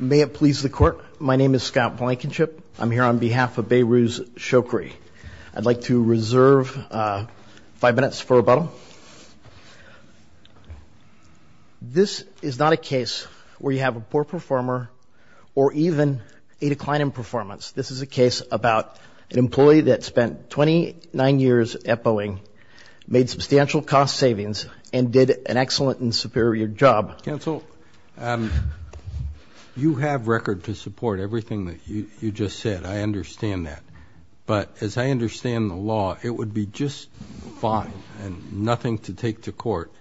May it please the court. My name is Scott Blankenship. I'm here on behalf of Behrouz Shokri. I'd like to reserve five minutes for rebuttal. This is not a case where you have a poor performer or even a decline in performance. This is a case about an employee that spent 29 years at Boeing, made substantial cost savings and did an excellent and superior job. Counsel, you have record to support everything that you just said. I understand that. But as I understand the law, it would be just fine and nothing to take to court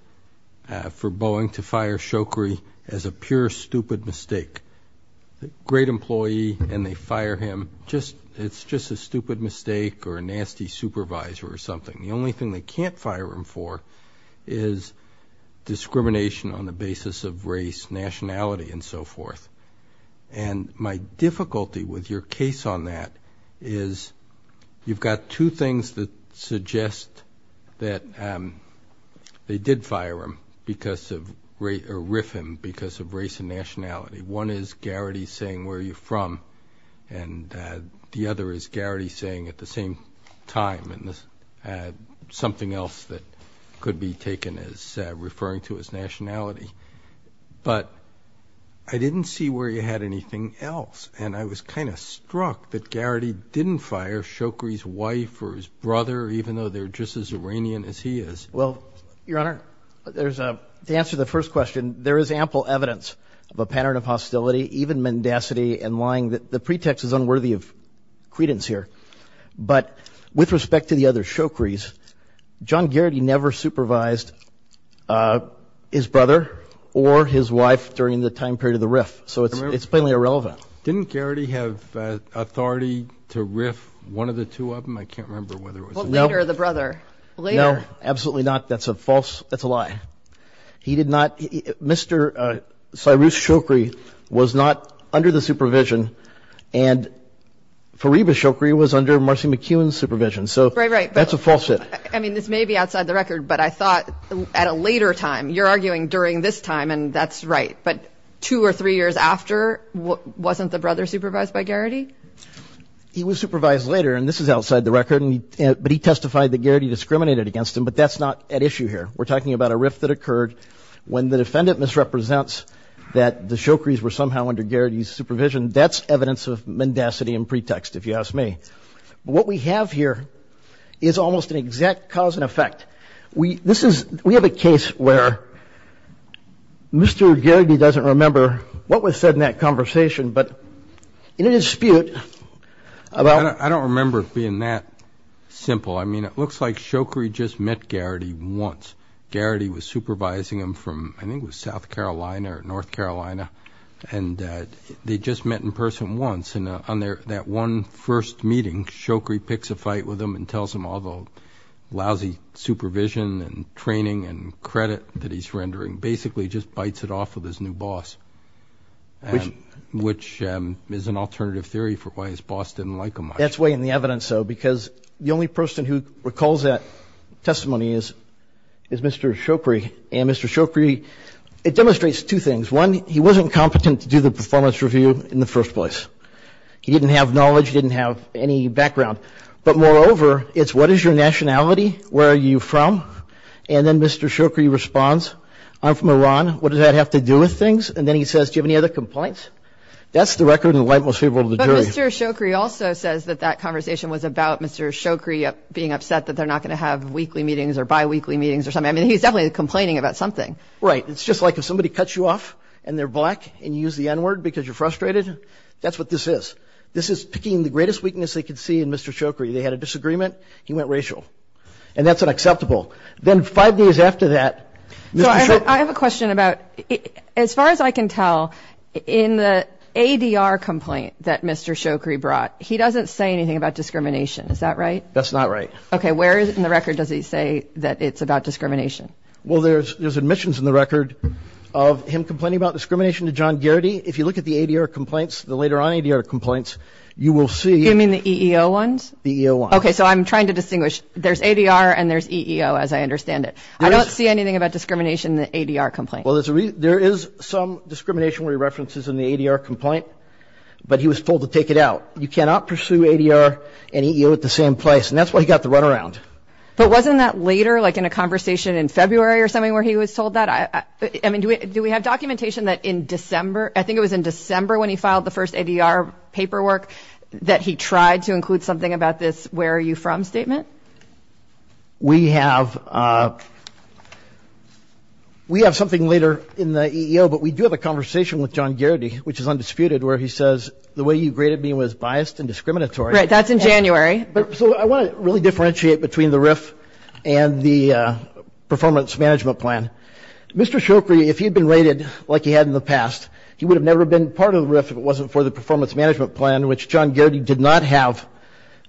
for Boeing to fire Shokri as a pure stupid mistake. A great employee and they fire him. Just it's just a stupid mistake or a nasty supervisor or something. The only thing they can't fire him for is discrimination on the basis of race, nationality and so forth. And my difficulty with your case on that is you've got two things that suggest that they did fire him because of rate or riff him because of race and nationality. One is Garrity saying, where are you from? And the other is Garrity saying at the same time and something else that could be taken as referring to his nationality. But I didn't see where you had anything else. And I was kind of struck that Garrity didn't fire Shokri's wife or his brother, even though they're just as Iranian as he is. Well, Your Honor, there's a to answer the first question. There is ample evidence of a pattern of hostility, even mendacity and lying that the pretext is unworthy of credence here. But with respect to the other Shokris, John Garrity never supervised his brother or his wife during the time period of the riff. So it's it's plainly irrelevant. Didn't Garrity have authority to riff one of the two of them? I can't remember whether it was later or the brother. No, absolutely not. That's a false. That's a lie. He did not. Mr. Cyrus Shokri was not under the supervision and Fariba Shokri was under Marcy McKeown's supervision. So that's a false. I mean, this may be outside the record, but I thought at a later time you're arguing during this time. And that's right. But two or three years after, wasn't the brother supervised by Garrity? He was supervised later. And this is outside the record. But he testified that Garrity discriminated against him. But that's not at issue here. We're talking about a riff that occurred when the defendant misrepresents that the Shokris were somehow under Garrity's supervision. That's evidence of mendacity and pretext, if you ask me. What we have here is almost an exact cause and effect. We this is we have a case where Mr. Garrity doesn't remember what was said in that conversation, but in a dispute about... I don't remember it being that simple. I mean, it looks like Shokri just met Garrity once. Garrity was supervising him from, I think it was South Carolina or North Carolina. And they just met in person once. And on that one first meeting, Shokri picks a fight with him and tells him all the lousy supervision and training and credit that he's rendering, basically just bites it off with his new boss, which is an alternative theory for why his boss didn't like him much. That's way in the evidence, though, because the only person who recalls that testimony is Mr. Shokri. And Mr. Shokri, it demonstrates two things. One, he wasn't competent to do the performance review in the first place. He didn't have knowledge, he didn't have any background. But moreover, it's what is your nationality? Where are you from? And then Mr. Shokri responds, I'm from Iran. What does that have to do with things? And then he says, do you have any other complaints? That's the record and the light most favorable to the jury. But Mr. Shokri also says that that conversation was about Mr. Shokri being upset that they're not going to have weekly meetings or bi-weekly meetings or something. I mean, he's definitely complaining about something. Right. It's just like if somebody cuts you off and they're black and you use the N-word because you're frustrated, that's what this is. This is picking the greatest weakness they could see in Mr. Shokri. They had a disagreement, he went racial. And that's acceptable. Then five days after that. So I have a question about as far as I can tell, in the ADR complaint that Mr. Shokri brought, he doesn't say anything about discrimination. Is that right? That's not right. Okay. Where is it in the record? Does he say that it's about discrimination? Well, there's there's admissions in the record of him complaining about discrimination to John Garrity. If you look at the ADR complaints, the later on ADR complaints, you will see... You mean the EEO ones? The EEO ones. Okay. So I'm trying to distinguish. There's ADR and there's EEO, as I understand it. I don't see anything about discrimination in the ADR complaint. Well, there is some discrimination where he references in the ADR complaint, but he was told to take it out. You cannot pursue ADR and EEO at the same place. And that's why he got the runaround. But wasn't that later, like in a conversation in February or something where he was told that? I mean, do we have documentation that in December, I think it was in December when he filed the first paperwork that he tried to include something about this where are you from statement? We have. We have something later in the EEO, but we do have a conversation with John Garrity, which is undisputed, where he says the way you graded me was biased and discriminatory. Right. That's in January. So I want to really differentiate between the RIF and the performance management plan. Mr. Shoukri, if he'd been rated like he had in the management plan, which John Garrity did not have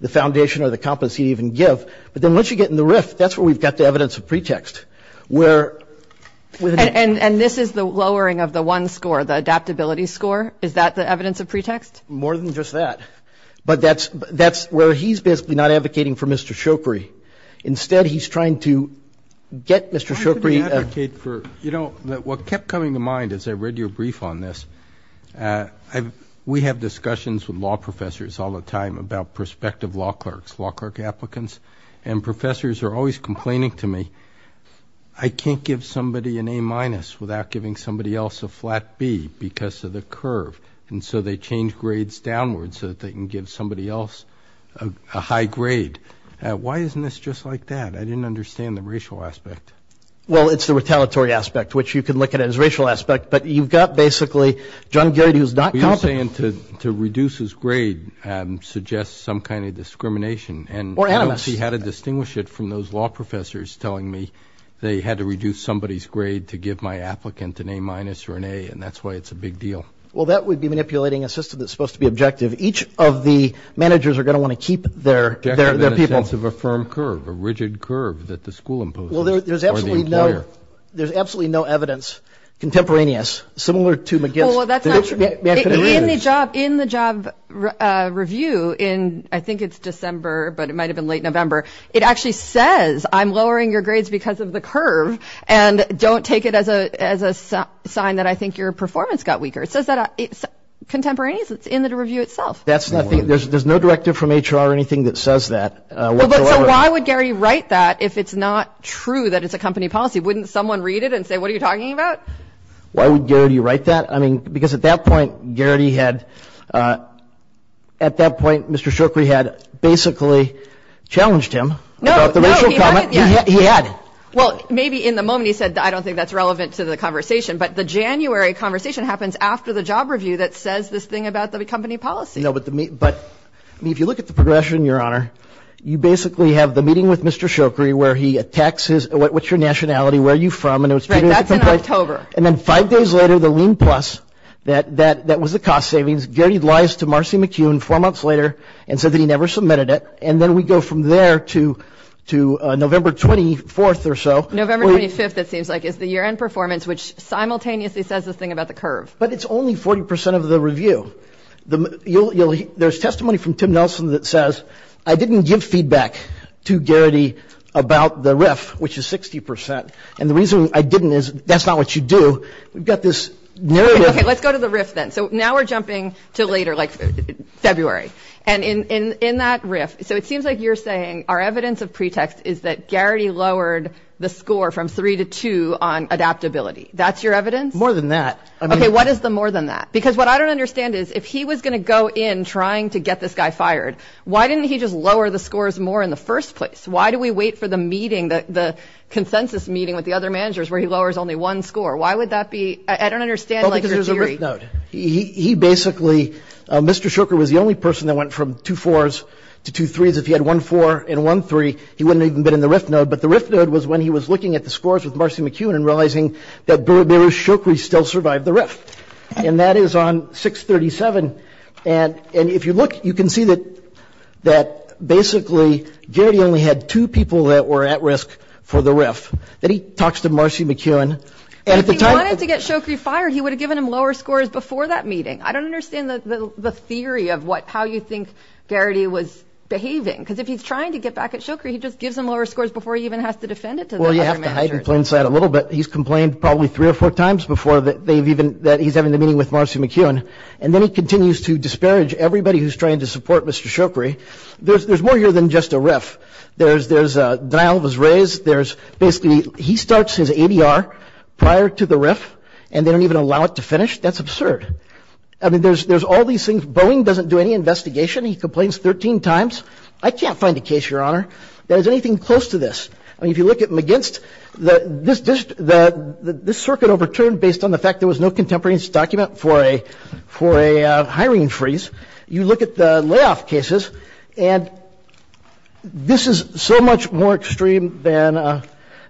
the foundation or the competency to even give. But then once you get in the RIF, that's where we've got the evidence of pretext where. And this is the lowering of the one score, the adaptability score. Is that the evidence of pretext? More than just that. But that's that's where he's basically not advocating for Mr. Shoukri. Instead, he's trying to get Mr. Shoukri. You know, what kept coming to mind is I read your brief on this. We have discussions with law professors all the time about prospective law clerks, law clerk applicants, and professors are always complaining to me. I can't give somebody an A minus without giving somebody else a flat B because of the curve. And so they change grades downwards so that they can give somebody else a high grade. Why isn't this just like that? I didn't understand the racial aspect. Well, it's the retaliatory aspect, which you can look at as racial aspect. But you've got basically John Geary, who's not. You're saying to reduce his grade suggests some kind of discrimination. Or animus. And I don't see how to distinguish it from those law professors telling me they had to reduce somebody's grade to give my applicant an A minus or an A. And that's why it's a big deal. Well, that would be manipulating a system that's supposed to be objective. Each of the managers are going to want to keep their people. A sense of a firm curve, a rigid curve that the school imposed. Well, there's absolutely no evidence contemporaneous similar to McGill. Well, that's in the job in the job review in I think it's December, but it might have been late November. It actually says I'm lowering your grades because of the curve. And don't take it as a as a sign that I think your performance got weaker. It says that it's contemporaneous. It's in the review itself. That's nothing. There's no directive from HR or anything that says that. Why would Gary write that if it's not true that it's a company policy? Wouldn't someone read it and say, what are you talking about? Why would you write that? I mean, because at that point, Gary had at that point, Mr. Shoukri had basically challenged him. No, no, he had. Well, maybe in the moment he said, I don't think that's relevant to the conversation. But the January conversation happens after the job review that says this thing about the company policy. No, but but if you look at the progression, your honor, you basically have the meeting with Mr. Shoukri, where he attacks his. What's your nationality? Where are you from? And it was October. And then five days later, the lean plus that that that was the cost savings. Gary lies to Marcy McCune four months later and said that he never submitted it. And then we go from there to to November 24th or so. November 25th, it seems like is the year end performance, which simultaneously says this thing about the curve. But it's only 40 percent of the review. There's testimony from Tim Nelson that says I didn't give feedback to Gary about the riff, which is 60 percent. And the reason I didn't is that's not what you do. We've got this narrative. OK, let's go to the riff then. So now we're jumping to later, like February. And in in that riff. So it seems like you're saying our evidence of pretext is that Gary lowered the score from three to two on adaptability. That's your evidence. More than that. OK, what is the more than that? Because what I don't understand is if he was going to go in trying to get this guy fired, why didn't he just lower the scores more in the first place? Why do we wait for the meeting, the consensus meeting with the other managers where he lowers only one score? Why would that be? I don't understand. Because there's a riff node. He basically, Mr. Shoker was the only person that went from two fours to two threes. If he had one four and one three, he wouldn't even been in the riff node. But the riff node was when he was looking at the scores with Marcy McEwen and realizing that Beru Shokri still survived the riff. And that is on 637. And if you look, you can see that basically, Gary only had two people that were at risk for the riff. Then he talks to Marcy McEwen. And if he wanted to get Shokri fired, he would have given him lower scores before that meeting. I don't understand the theory of how you think Gary was behaving. Because if he's trying to get back at Shokri, he just gives him lower scores before he even has to defend it to the other managers. Well, you have to hide and cleanse that a little bit. He's complained probably three or four times before that they've even, that he's having the meeting with Marcy McEwen. And then he continues to disparage everybody who's trying to support Mr. Shokri. There's more here than just a riff. There's denial of his raise. There's basically, he starts his ADR prior to the riff. And they don't even allow it to finish. That's absurd. I mean, there's all these things. Boeing doesn't do any investigation. He complains 13 times. I can't find a case, Your Honor, that has anything close to this. I mean, if you look at McGinst, this circuit overturned based on the fact there was no contemporaneous document for a hiring freeze. You look at the layoff cases, and this is so much more extreme than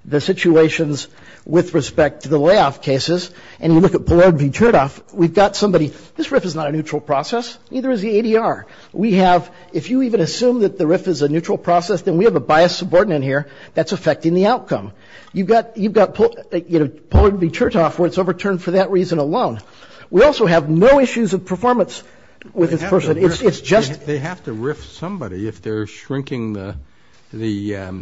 the situations with respect to the layoff cases. And you look at Pollard v. Chertoff, we've got somebody, this riff is not a neutral process. Neither is the ADR. We have, if you even assume that the riff is a neutral process, then we have a biased subordinate here that's affecting the outcome. You've got Pollard v. Chertoff where it's overturned for that reason alone. We also have no issues of performance with this person. It's just- They have to riff somebody if they're shrinking the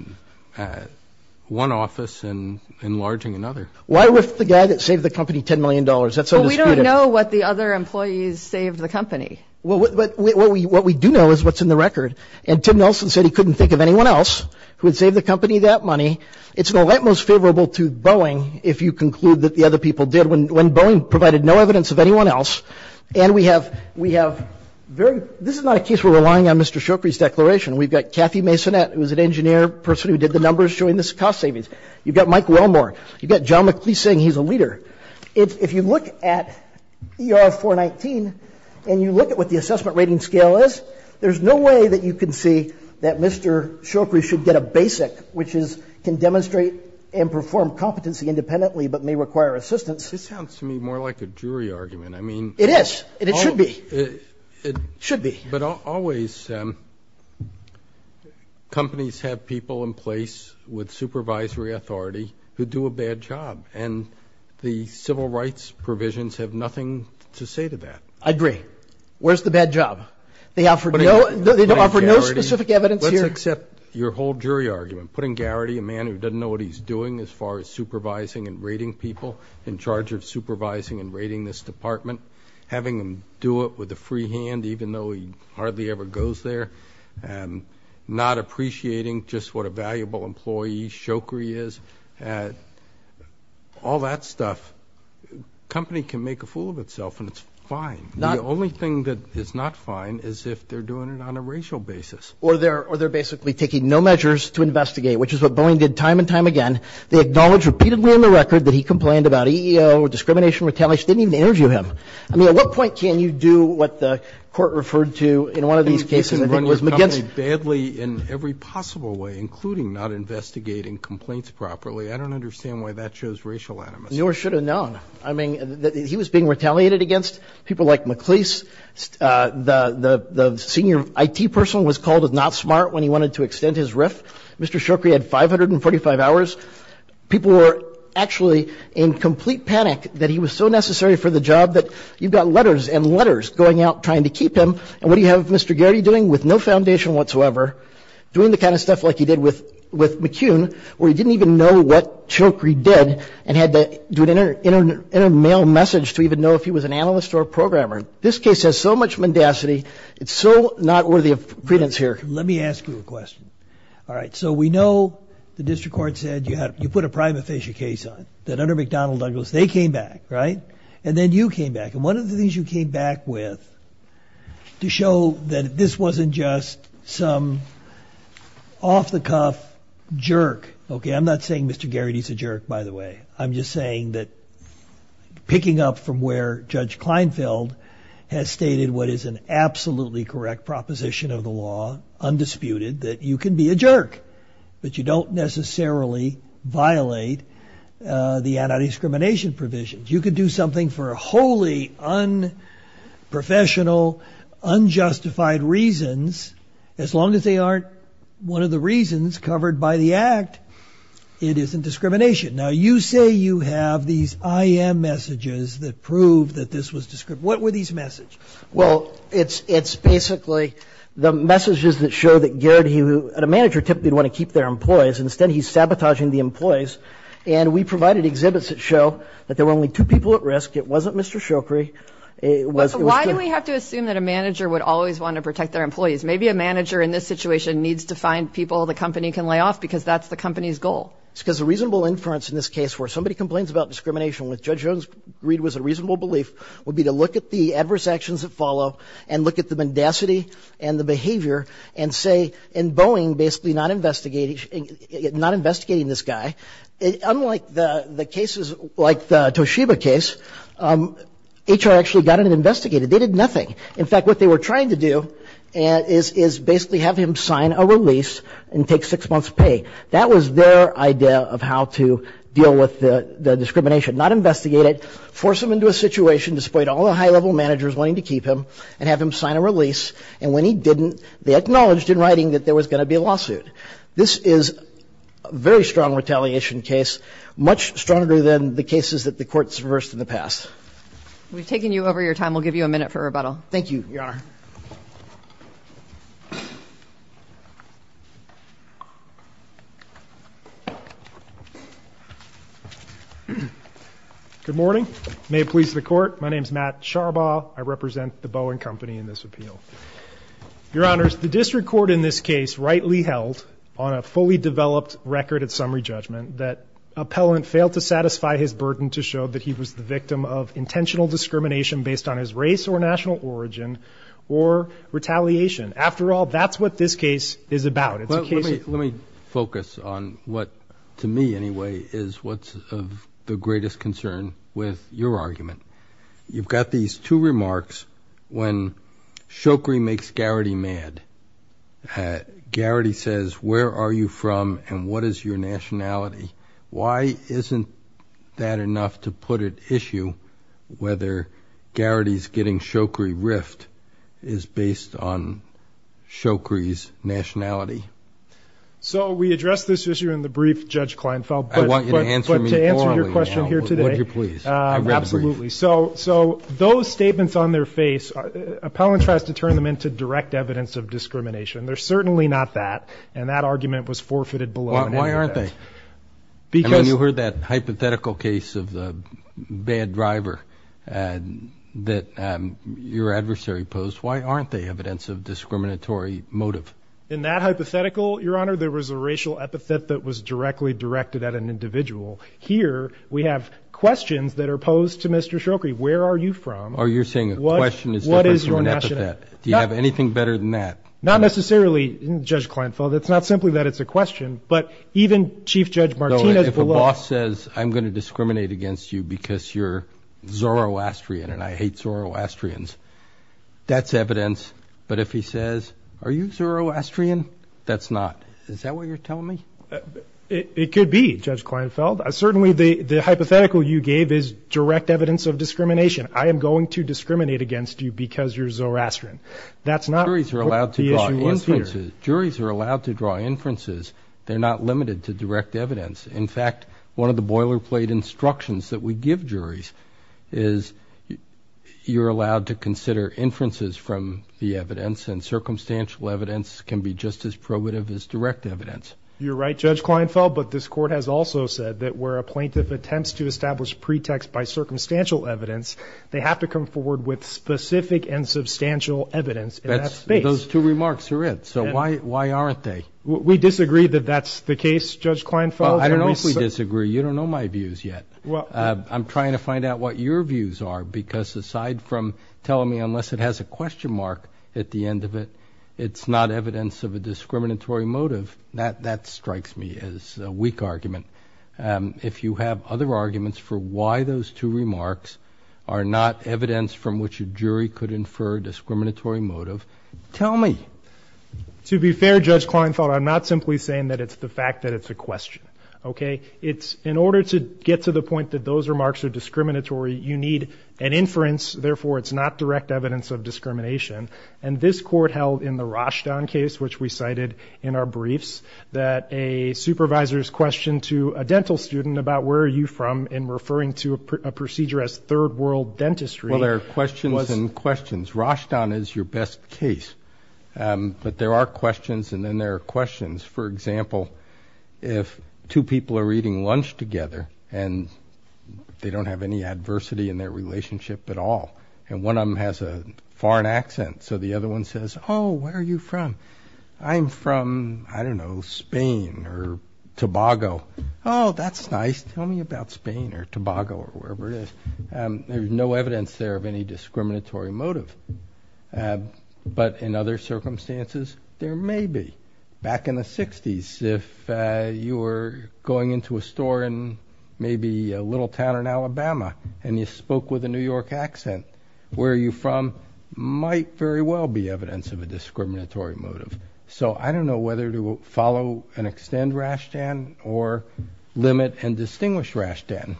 one office and enlarging another. Why riff the guy that saved the company $10 million? That's so disputed. Well, we don't know what the other employees saved the company. Well, what we do know is what's in the record. And Tim Nelson said he couldn't think of anyone else who would save the company that money. It's not that most favorable to Boeing if you conclude that the other people did when Boeing provided no evidence of anyone else. And we have very- This is not a case where we're relying on Mr. Shoukri's declaration. We've got Kathy Masonette, who was an engineer person who did the numbers showing this cost savings. You've got Mike Wilmore. You've got John McLeese saying he's a leader. If you look at ER-419 and you look at what the assessment rating scale is, there's no way that you can see that Mr. Shoukri should get a basic, which is can demonstrate and perform competency independently but may require assistance. This sounds to me more like a jury argument. I mean- It is, and it should be. Should be. But always, companies have people in place with supervisory authority who do a bad job. And the civil rights provisions have nothing to say to that. I agree. Where's the bad job? They offer no specific evidence here. Let's accept your whole jury argument. Putting Garrity, a man who doesn't know what he's doing as far as supervising and rating people in charge of supervising and rating this department, having him do it with a free hand even though he hardly ever goes there, and not appreciating just what a valuable employee Shoukri is, all that stuff, company can make a fool of itself and it's fine. The only thing that is not fine is if they're doing it on a racial basis. Or they're basically taking no measures to investigate, which is what Boeing did time and time again. They acknowledged repeatedly on the record that he complained about EEO or discrimination retaliation. Didn't even interview him. I mean, at what point can you do what the Court referred to in one of these cases? I think it was against- You can run your company badly in every possible way, including not investigating complaints properly. I don't understand why that shows racial animus. Nor should have known. I mean, he was being retaliated against. People like McLeese, the senior IT person was called not smart when he wanted to extend his riff. Mr. Shoukri had 545 hours. People were actually in complete panic that he was so necessary for the job that you've got letters and letters going out trying to keep him. And what do you have Mr. Geraghty doing with no foundation whatsoever? Doing the kind of stuff like he did with McCune, where he didn't even know what Shoukri did and had to do it in a mail message to even know if he was an analyst or a programmer. This case has so much mendacity. It's so not worthy of credence here. Let me ask you a question. All right. So we know the District Court said you put a prima facie case on that under McDonnell Douglas. They came back, right? And then you came back. And one of the things you came back with to show that this wasn't just some off-the-cuff jerk. Okay. I'm not saying Mr. Geraghty's a jerk, by the way. I'm just saying that picking up from where Judge Kleinfeld has stated what is an absolutely correct proposition of the law, undisputed, that you can be a jerk, but you don't necessarily violate the anti-discrimination provisions. You could do something for wholly unprofessional, unjustified reasons, as long as they aren't one of the reasons covered by the Act. It isn't discrimination. Now, you say you have these IM messages that prove that this was discrimination. What were these messages? Well, it's basically the messages that show that Geraghty, a manager, typically would want to keep their employees. Instead, he's sabotaging the employees. And we provided exhibits that show that there were only two people at risk. It wasn't Mr. Shoukri. Why do we have to assume that a manager would always want to protect their employees? Maybe a manager in this situation needs to find people the company can lay off because that's the company's goal. It's because the reasonable inference in this case where somebody complains about discrimination with Judge Jones' greed was a reasonable belief would be to look at the adverse actions that follow and look at the mendacity and the behavior and say, in Boeing, basically not investigating this guy. Unlike the cases like the Toshiba case, HR actually got in and investigated. They did nothing. In fact, what they were trying to do is basically have him sign a release and take six months pay. That was their idea of how to deal with the discrimination, not investigate it, force him into a situation, disappoint all the high-level managers wanting to keep him, and have him sign a release. And when he didn't, they acknowledged in writing that there was going to be a lawsuit. This is a very strong retaliation case, much stronger than the cases that the courts reversed in the past. We've taken you over your time. We'll give you a minute for rebuttal. Thank you, Your Honor. Good morning. May it please the Court. My name is Matt Charbaugh. I represent the Boeing Company in this appeal. Your Honor, the district court in this case rightly held on a fully developed record at summary judgment that appellant failed to satisfy his burden to show that he was the intentional discrimination based on his race or national origin or retaliation. After all, that's what this case is about. Let me focus on what, to me anyway, is what's of the greatest concern with your argument. You've got these two remarks when Shokri makes Garrity mad. Garrity says, where are you from and what is your nationality? Why isn't that enough to put at issue whether Garrity's getting Shokri riffed is based on Shokri's nationality? So we addressed this issue in the brief, Judge Kleinfeld, but to answer your question here today, absolutely. So those statements on their face, appellant tries to turn them into direct evidence of discrimination. They're certainly not that. And that argument was forfeited below. Why aren't they? Because when you heard that hypothetical case of the bad driver that your adversary posed, why aren't they evidence of discriminatory motive? In that hypothetical, Your Honor, there was a racial epithet that was directly directed at an individual. Here, we have questions that are posed to Mr. Shokri. Where are you from? Or you're saying a question is different from an epithet. Do you have anything better than that? Not necessarily, Judge Kleinfeld. It's not simply that it's a question. But even Chief Judge Martinez below says I'm going to discriminate against you because you're Zoroastrian and I hate Zoroastrians. That's evidence. But if he says, are you Zoroastrian? That's not. Is that what you're telling me? It could be, Judge Kleinfeld. Certainly, the hypothetical you gave is direct evidence of discrimination. I am going to discriminate against you because you're Zoroastrian. That's not what the issue was here. Juries are allowed to draw inferences. They're not limited to direct evidence. In fact, one of the boilerplate instructions that we give juries is you're allowed to consider inferences from the evidence. And circumstantial evidence can be just as probative as direct evidence. You're right, Judge Kleinfeld. But this Court has also said that where a plaintiff attempts to establish pretext by circumstantial evidence, they have to come forward with specific and substantial evidence. Those two remarks are it. Why aren't they? We disagree that that's the case, Judge Kleinfeld. I don't know if we disagree. You don't know my views yet. I'm trying to find out what your views are because aside from telling me unless it has a question mark at the end of it, it's not evidence of a discriminatory motive, that strikes me as a weak argument. If you have other arguments for why those two remarks are not evidence from which a jury could infer discriminatory motive, tell me. To be fair, Judge Kleinfeld, I'm not simply saying that it's the fact that it's a question. OK? It's in order to get to the point that those remarks are discriminatory, you need an inference. Therefore, it's not direct evidence of discrimination. And this Court held in the Rashton case, which we cited in our briefs, that a supervisor's question to a dental student about where are you from in referring to a procedure as third world dentistry. Well, there are questions and questions. Rashton is your best case. But there are questions and then there are questions. For example, if two people are eating lunch together and they don't have any adversity in their relationship at all and one of them has a foreign accent, so the other one says, oh, where are you from? I'm from, I don't know, Spain or Tobago. Oh, that's nice. Tell me about Spain or Tobago or wherever it is. There's no evidence there of any discriminatory motive. But in other circumstances, there may be. Back in the 60s, if you were going into a store in maybe a little town in Alabama and you spoke with a New York accent, where are you from might very well be evidence of a discriminatory motive. So I don't know whether to follow and extend Rashton or limit and distinguish Rashton.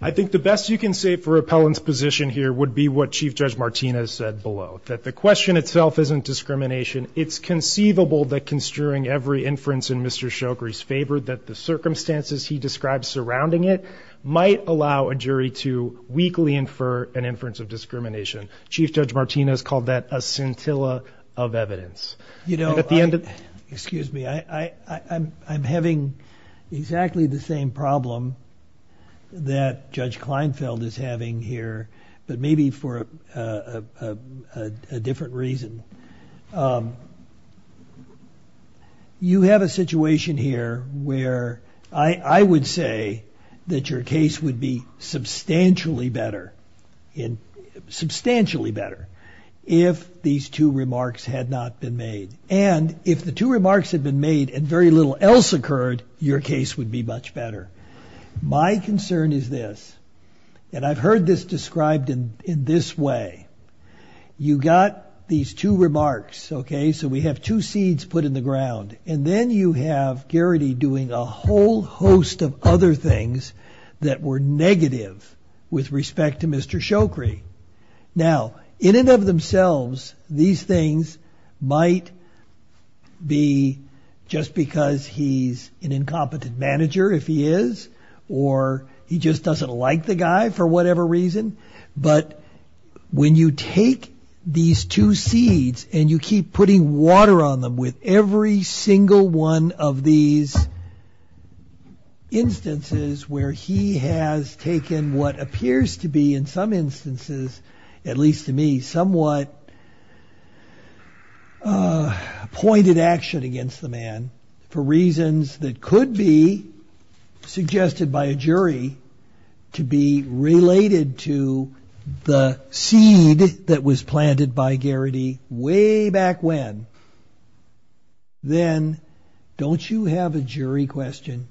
I think the best you can say for repellent's position here would be what Chief Judge Martinez said below, that the question itself isn't discrimination. It's conceivable that construing every inference in Mr. Shoukri's favor, that the circumstances he describes surrounding it might allow a jury to weakly infer an inference of discrimination. Chief Judge Martinez called that a scintilla of evidence. You know, excuse me, I'm having exactly the same problem that Judge Kleinfeld is having here, but maybe for a different reason. You have a situation here where I would say that your case would be substantially better in substantially better if these two remarks had not been made. And if the two remarks have been made and very little else occurred, your case would be much better. My concern is this, and I've heard this described in this way, you got these two remarks, okay, so we have two seeds put in the ground, and then you have Garrity doing a whole host of other things that were negative with respect to Mr. Shoukri. Now, in and of themselves, these things might be just because he's an incompetent manager if he is, or he just doesn't like the guy for whatever reason. But when you take these two seeds and you keep putting water on them with every single one of these instances where he has taken what appears to be in some instances, at least to me, somewhat pointed action against the man for reasons that could be suggested by a jury to be related to the seed that was planted by Garrity way back when, then don't you have a jury question?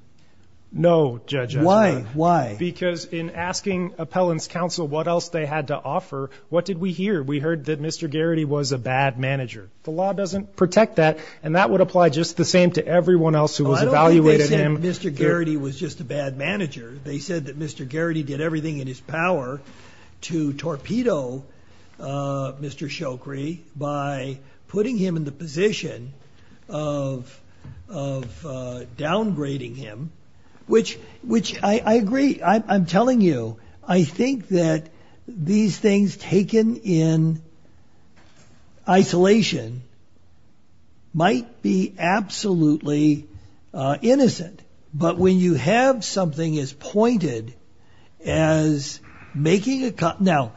No, Judge. Why? Why? Because in asking appellant's counsel what else they had to offer, what did we hear? We heard that Mr. Garrity was a bad manager. The law doesn't protect that, and that would apply just the same to everyone else who was evaluated him. I don't think they said Mr. Garrity was just a bad manager. They said that Mr. Garrity did everything in his power to torpedo Mr. Shoukri by putting him in the position of downgrading him, which I agree. I'm telling you, I think that these things taken in isolation might be absolutely innocent. But when you have something as pointed as making a... Now,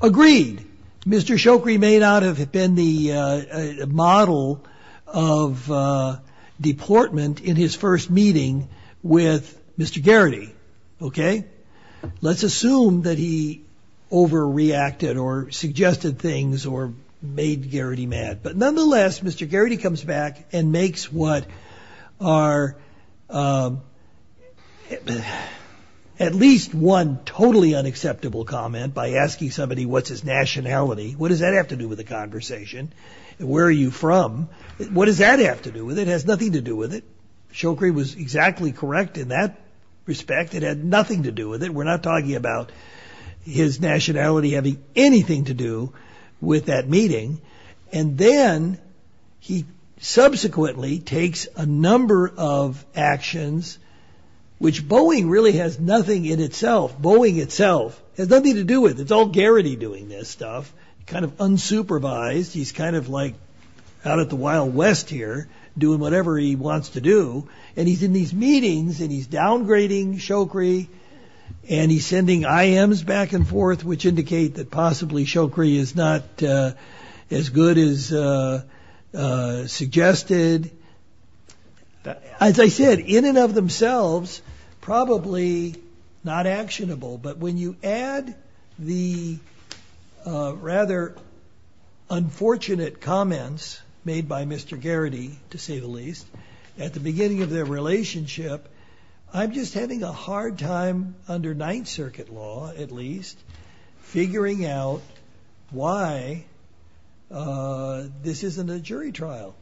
agreed, Mr. Shoukri may not have been the model of deportment in his first meeting with Mr. Garrity. Let's assume that he overreacted or suggested things or made Garrity mad. But nonetheless, Mr. Garrity comes back and makes what are at least one totally unacceptable comment by asking somebody what's his nationality. What does that have to do with the conversation? And where are you from? What does that have to do with it? It has nothing to do with it. Shoukri was exactly correct in that respect. It had nothing to do with it. We're not talking about his nationality having anything to do with that meeting. And then he subsequently takes a number of actions, which Boeing really has nothing in itself. Boeing itself has nothing to do with it. It's all Garrity doing this stuff, kind of unsupervised. He's kind of like out of the wild west here doing whatever he wants to do. And he's in these meetings and he's downgrading Shoukri and he's sending IMs back and forth, which indicate that possibly Shoukri is not as good as suggested. As I said, in and of themselves, probably not actionable. But when you add the rather unfortunate comments made by Mr. Garrity, to say the least, at the beginning of their relationship, I'm just having a hard time under Ninth Circuit law, at least, figuring out why this isn't a jury trial.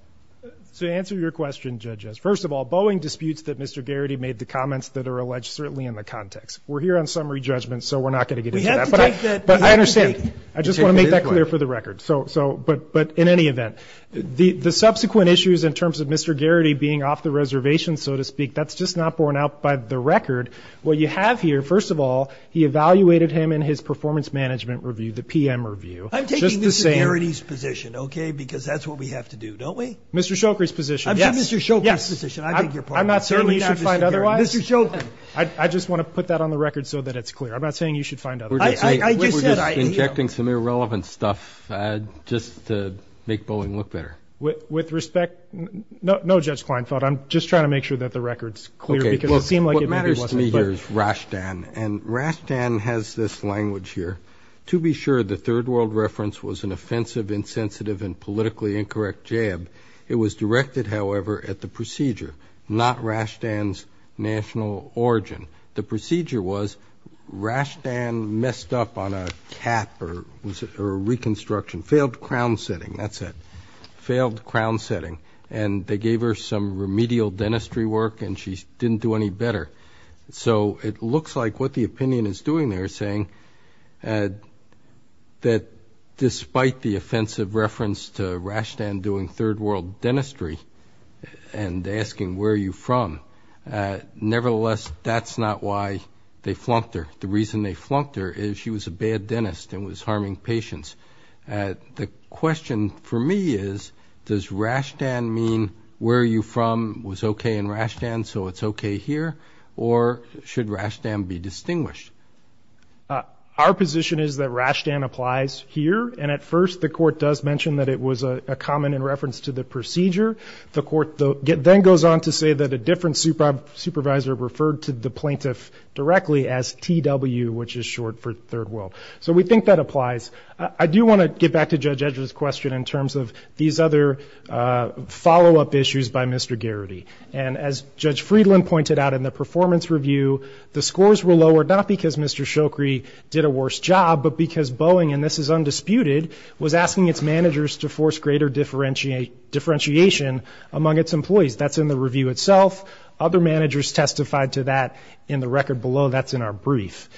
So to answer your question, judges, first of all, Boeing disputes that Mr. Garrity made the comments that are alleged certainly in the context. We're here on summary judgment, so we're not going to get into that. But I understand. I just want to make that clear for the record. But in any event, the subsequent issues in terms of Mr. Garrity being off the reservation, so to speak, that's just not borne out by the record. What you have here, first of all, he evaluated him in his performance management review, the PM review. I'm taking Mr. Garrity's position, OK? Because that's what we have to do, don't we? Mr. Shoukri's position. I'm taking Mr. Shoukri's position. I think you're part of it. I'm not saying you should find otherwise. Mr. Shoukri. I just want to put that on the record so that it's clear. I'm not saying you should find otherwise. We're just injecting some irrelevant stuff just to make Boeing look better. With respect, no, Judge Kleinfeld, I'm just trying to make sure that the record's clear. What matters to me here is Rashtan. And Rashtan has this language here. To be sure, the Third World reference was an offensive, insensitive, and politically incorrect jab. It was directed, however, at the procedure, not Rashtan's national origin. The procedure was Rashtan messed up on a cap, or was it a reconstruction? Failed crown setting. That's it. Failed crown setting. And they gave her some remedial dentistry work, and she didn't do any better. So it looks like what the opinion is doing there is saying that despite the offensive reference to Rashtan doing Third World dentistry and asking where are you from, nevertheless, that's not why they flunked her. The reason they flunked her is she was a bad dentist and was harming patients. The question for me is, does Rashtan mean where are you from was okay in Rashtan, so it's okay here? Or should Rashtan be distinguished? Our position is that Rashtan applies here. And at first, the court does mention that it was a comment in reference to the procedure. The court then goes on to say that a different supervisor referred to the plaintiff directly as TW, which is short for Third World. So we think that applies. I do want to get back to Judge Edgeworth's question in terms of these other follow-up issues by Mr. Garrity. And as Judge Friedland pointed out in the performance review, the scores were lowered not because Mr. Shokri did a worse job, but because Boeing, and this is undisputed, was asking its managers to force greater differentiation among its employees. That's in the review itself. Other managers testified to that in the record below. That's in our brief.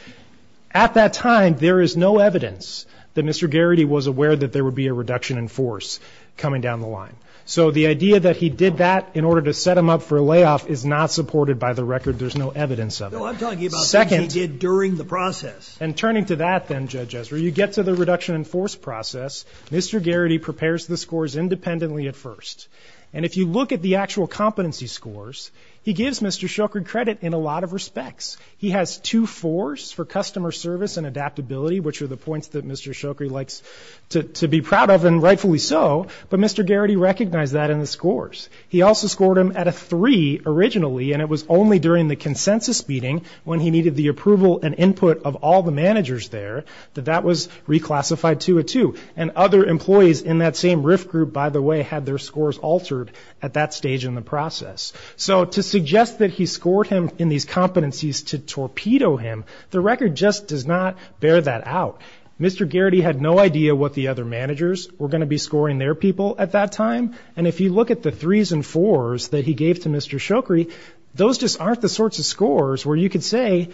At that time, there is no evidence that Mr. Garrity was aware that there would be a reduction in force coming down the line. So the idea that he did that in order to set him up for a layoff is not supported by the record. There's no evidence of it. No, I'm talking about things he did during the process. And turning to that then, Judge Edgeworth, you get to the reduction in force process. Mr. Garrity prepares the scores independently at first. And if you look at the actual competency scores, he gives Mr. Shokri credit in a lot of respects. He has two fours for customer service and adaptability, which are the points that Mr. Shokri likes to be proud of, and rightfully so. But Mr. Garrity recognized that in the scores. He also scored him at a three originally, and it was only during the consensus meeting when he needed the approval and input of all the managers there that that was reclassified to a two. And other employees in that same RIF group, by the way, had their scores altered at that stage in the process. So to suggest that he scored him in these competencies to torpedo him, the record just does not bear that out. Mr. Garrity had no idea what the other managers were going to be scoring their people at that time. And if you look at the threes and fours that he gave to Mr. Shokri, those just aren't the sorts of scores where you could say,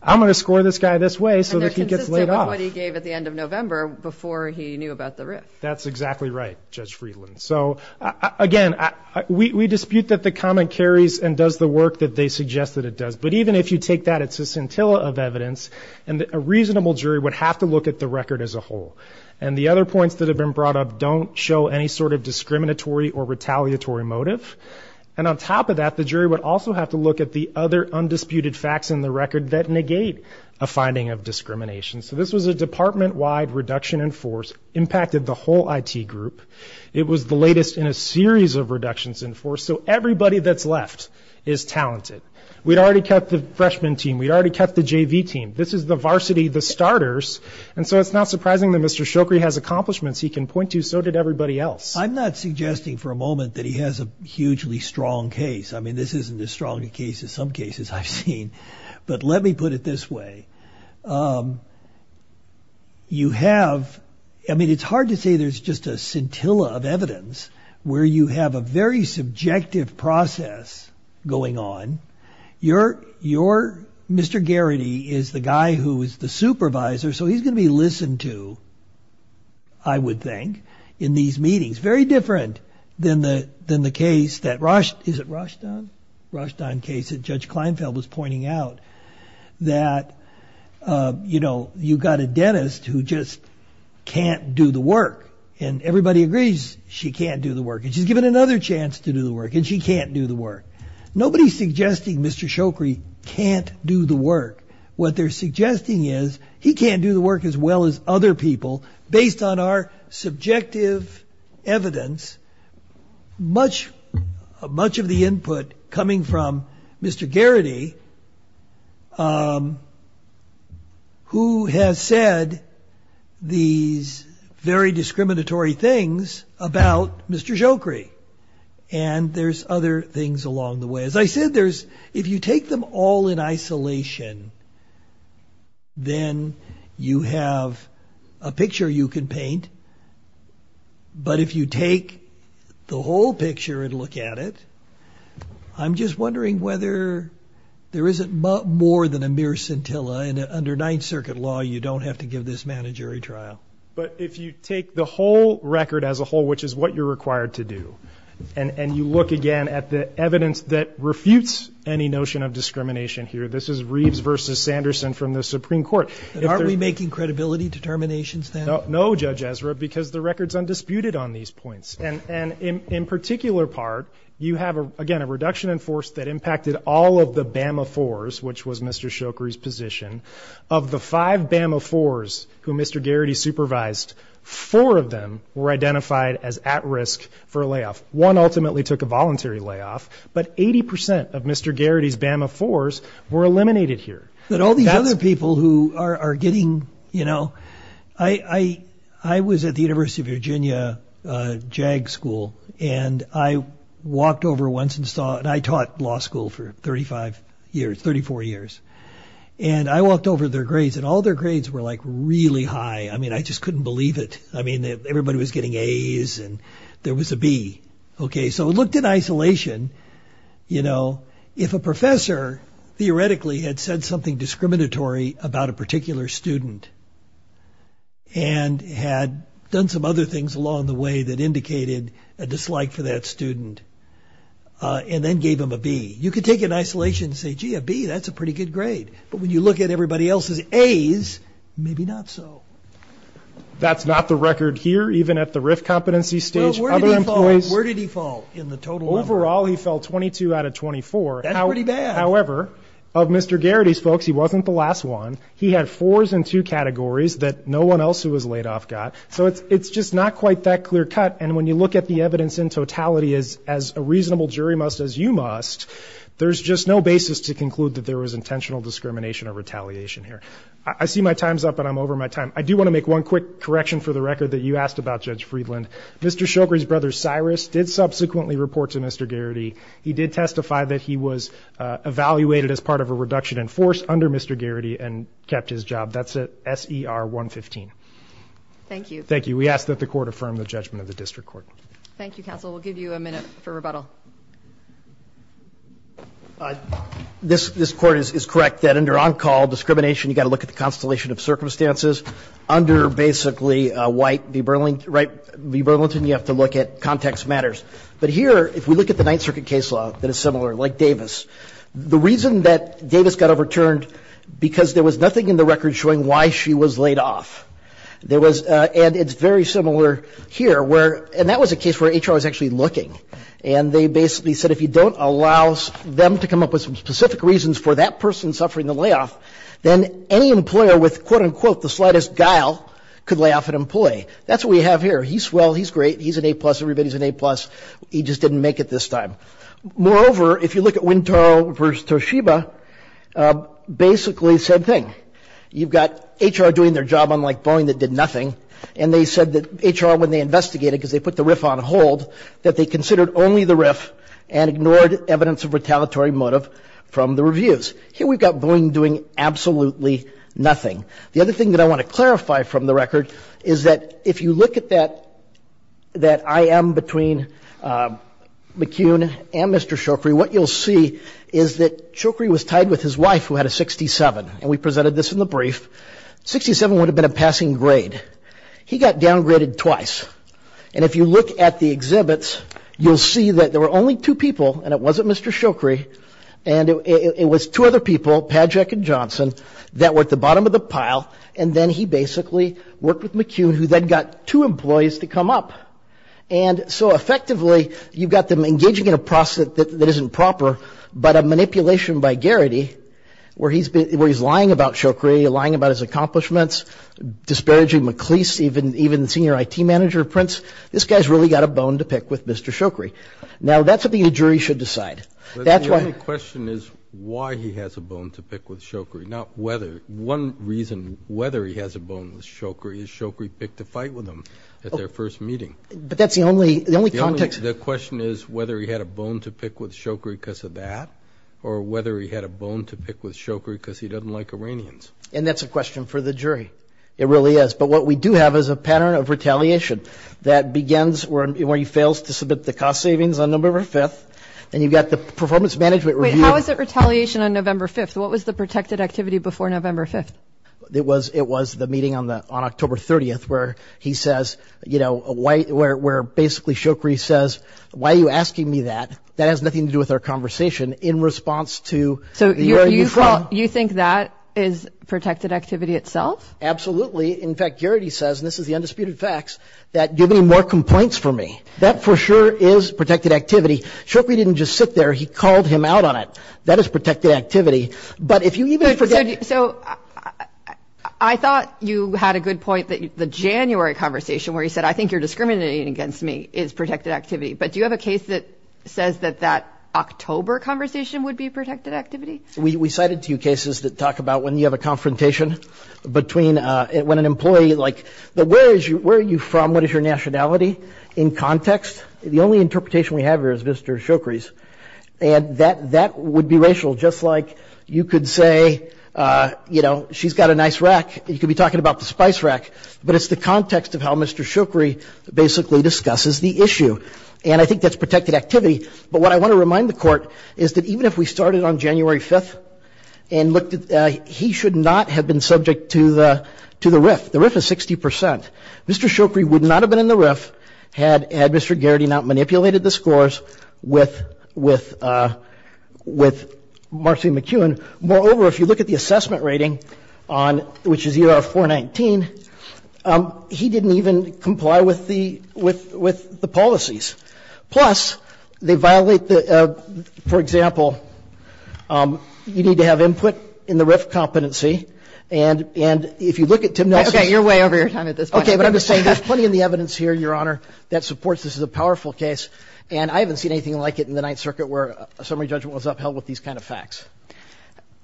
I'm going to score this guy this way so that he gets laid off. And they're consistent with what he gave at the end of November before he knew about the RIF. That's exactly right, Judge Friedland. Again, we dispute that the comment carries and does the work that they suggest that it does. But even if you take that, it's a scintilla of evidence. And a reasonable jury would have to look at the record as a whole. And the other points that have been brought up don't show any sort of discriminatory or retaliatory motive. And on top of that, the jury would also have to look at the other undisputed facts in the record that negate a finding of discrimination. So this was a department-wide reduction in force, impacted the whole IT group. It was the latest in a series of reductions in force. So everybody that's left is talented. We'd already kept the freshman team. We'd already kept the JV team. This is the varsity, the starters. And so it's not surprising that Mr. Shokri has accomplishments he can point to. So did everybody else. I'm not suggesting for a moment that he has a hugely strong case. I mean, this isn't as strong a case as some cases I've seen. But let me put it this way. I mean, it's hard to say there's just a scintilla of evidence where you have a very subjective process going on. Mr. Garrity is the guy who is the supervisor. So he's going to be listened to, I would think, in these meetings. Very different than the case that Rushdown case that Judge Kleinfeld was pointing out, that you've got a dentist who just can't do the work. And everybody agrees she can't do the work. And she's given another chance to do the work. And she can't do the work. Nobody's suggesting Mr. Shokri can't do the work. What they're suggesting is he can't do the work as well as other people, based on our subjective evidence. Much of the input coming from Mr. Garrity, who has said these very discriminatory things about Mr. Shokri. And there's other things along the way. As I said, if you take them all in isolation, then you have a picture you can paint. But if you take the whole picture and look at it, I'm just wondering whether there isn't more than a mere scintilla. And under Ninth Circuit law, you don't have to give this man a jury trial. But if you take the whole record as a whole, which is what you're required to do, and you look again at the evidence that refutes any notion of discrimination here, this is Reeves versus Sanderson from the Supreme Court. Aren't we making credibility determinations then? No, Judge Ezra, because the record's undisputed on these points. And in particular part, you have, again, a reduction in force that impacted all of the Bama 4s, which was Mr. Shokri's position. Of the five Bama 4s who Mr. Garrity supervised, four of them were identified as at risk for a layoff. One ultimately took a voluntary layoff. But 80% of Mr. Garrity's Bama 4s were eliminated here. But all these other people who are getting, you know... I was at the University of Virginia JAG school, and I walked over once and saw, and I taught law school for 35 years, 34 years. And I walked over their grades, and all their grades were like really high. I mean, I just couldn't believe it. I mean, everybody was getting A's, and there was a B. Okay, so looked in isolation, you know, if a professor theoretically had said something discriminatory about a particular student, and had done some other things along the way that indicated a dislike for that student, and then gave him a B, you could take it in isolation and say, gee, a B, that's a pretty good grade. But when you look at everybody else's A's, maybe not so. That's not the record here, even at the RIF competency stage. Where did he fall in the total? Overall, he fell 22 out of 24. That's pretty bad. However, of Mr. Garrity's folks, he wasn't the last one. He had fours in two categories that no one else who was laid off got. So it's just not quite that clear cut. And when you look at the evidence in totality as a reasonable jury must as you must, there's just no basis to conclude that there was intentional discrimination or retaliation here. I see my time's up, and I'm over my time. I do want to make one quick correction for the record that you asked about, Judge Friedland. Mr. Shoker's brother, Cyrus, did subsequently report to Mr. Garrity. He did testify that he was evaluated as part of a reduction in force under Mr. Garrity and kept his job. That's S.E.R. 115. Thank you. Thank you. We ask that the Court affirm the judgment of the District Court. Thank you, Counsel. We'll give you a minute for rebuttal. This Court is correct that under on-call discrimination, you've got to look at the constellation of circumstances. Under basically White v. Burlington, you have to look at context matters. But here, if we look at the Ninth Circuit case law that is similar, like Davis, the reason that Davis got overturned, because there was nothing in the record showing why she was laid off. And it's very similar here where, and that was a case where HR was actually looking. And they basically said if you don't allow them to come up with some specific reasons for that person suffering the layoff, then any employer with, quote-unquote, the slightest guile could lay off an employee. That's what we have here. He's well. He's great. He's an A-plus. Everybody's an A-plus. He just didn't make it this time. Moreover, if you look at Wintour v. Toshiba, basically, same thing. You've got HR doing their job unlike Boeing that did nothing. And they said that HR, when they investigated, because they put the RIF on hold, that they considered only the RIF and ignored evidence of retaliatory motive from the reviews. Here we've got Boeing doing absolutely nothing. The other thing that I want to clarify from the record is that if you look at that IM between McCune and Mr. Shokri, what you'll see is that Shokri was tied with his wife, who had a 67. And we presented this in the brief. 67 would have been a passing grade. He got downgraded twice. And if you look at the exhibits, you'll see that there were only two people, and it wasn't Mr. Shokri, and it was two other people, Padgett and Johnson, that were at the bottom of the pile. And then he basically worked with McCune, who then got two employees to come up. And so effectively, you've got them engaging in a process that isn't proper, but a manipulation by Garrity, where he's lying about Shokri, lying about his accomplishments, disparaging MacLeese, even the senior IT manager of Prince. This guy's really got a bone to pick with Mr. Shokri. Now, that's something a jury should decide. But the only question is why he has a bone to pick with Shokri, not whether. One reason whether he has a bone with Shokri is Shokri picked a fight with him at their first meeting. But that's the only context. The question is whether he had a bone to pick with Shokri because of that, or whether he had a bone to pick with Shokri because he doesn't like Iranians. And that's a question for the jury. It really is. But what we do have is a pattern of retaliation that begins where he fails to submit the cost savings on November 5th, and you've got the performance management review. Wait, how is it retaliation on November 5th? What was the protected activity before November 5th? It was the meeting on October 30th, where he says, you know, where basically Shokri says, why are you asking me that? That has nothing to do with our conversation in response to where you're from. So you think that is protected activity itself? Absolutely. In fact, Garrity says, and this is the undisputed facts, that give me more complaints for me. That for sure is protected activity. Shokri didn't just sit there. He called him out on it. That is protected activity. But if you even forget... So I thought you had a good point that the January conversation where he said, I think you're discriminating against me is protected activity. But do you have a case that says that that October conversation would be protected activity? We cited two cases that talk about when you have a confrontation between when an employee, like, where are you from? What is your nationality in context? The only interpretation we have here is Mr. Shokri's. And that would be racial. Just like you could say, you know, she's got a nice rack. You could be talking about the spice rack. But it's the context of how Mr. Shokri basically discusses the issue. And I think that's protected activity. But what I want to remind the Court is that even if we started on January 5th and looked at... He should not have been subject to the RIF. The RIF is 60%. Mr. Shokri would not have been in the RIF had Mr. Garrity not manipulated the scores with Marcy McEwen. Moreover, if you look at the assessment rating, which is ER-419, he didn't even comply with the policies. Plus, they violate the... For example, you need to have input in the RIF competency. And if you look at Tim Nelson's... Okay, you're way over your time at this point. Okay, but I'm just saying there's plenty of the evidence here, Your Honor, that supports this is a powerful case. And I haven't seen anything like it in the Ninth Circuit where a summary judgment was upheld with these kind of facts.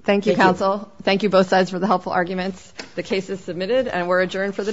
Thank you, counsel. Thank you both sides for the helpful arguments. The case is submitted and we're adjourned for the day.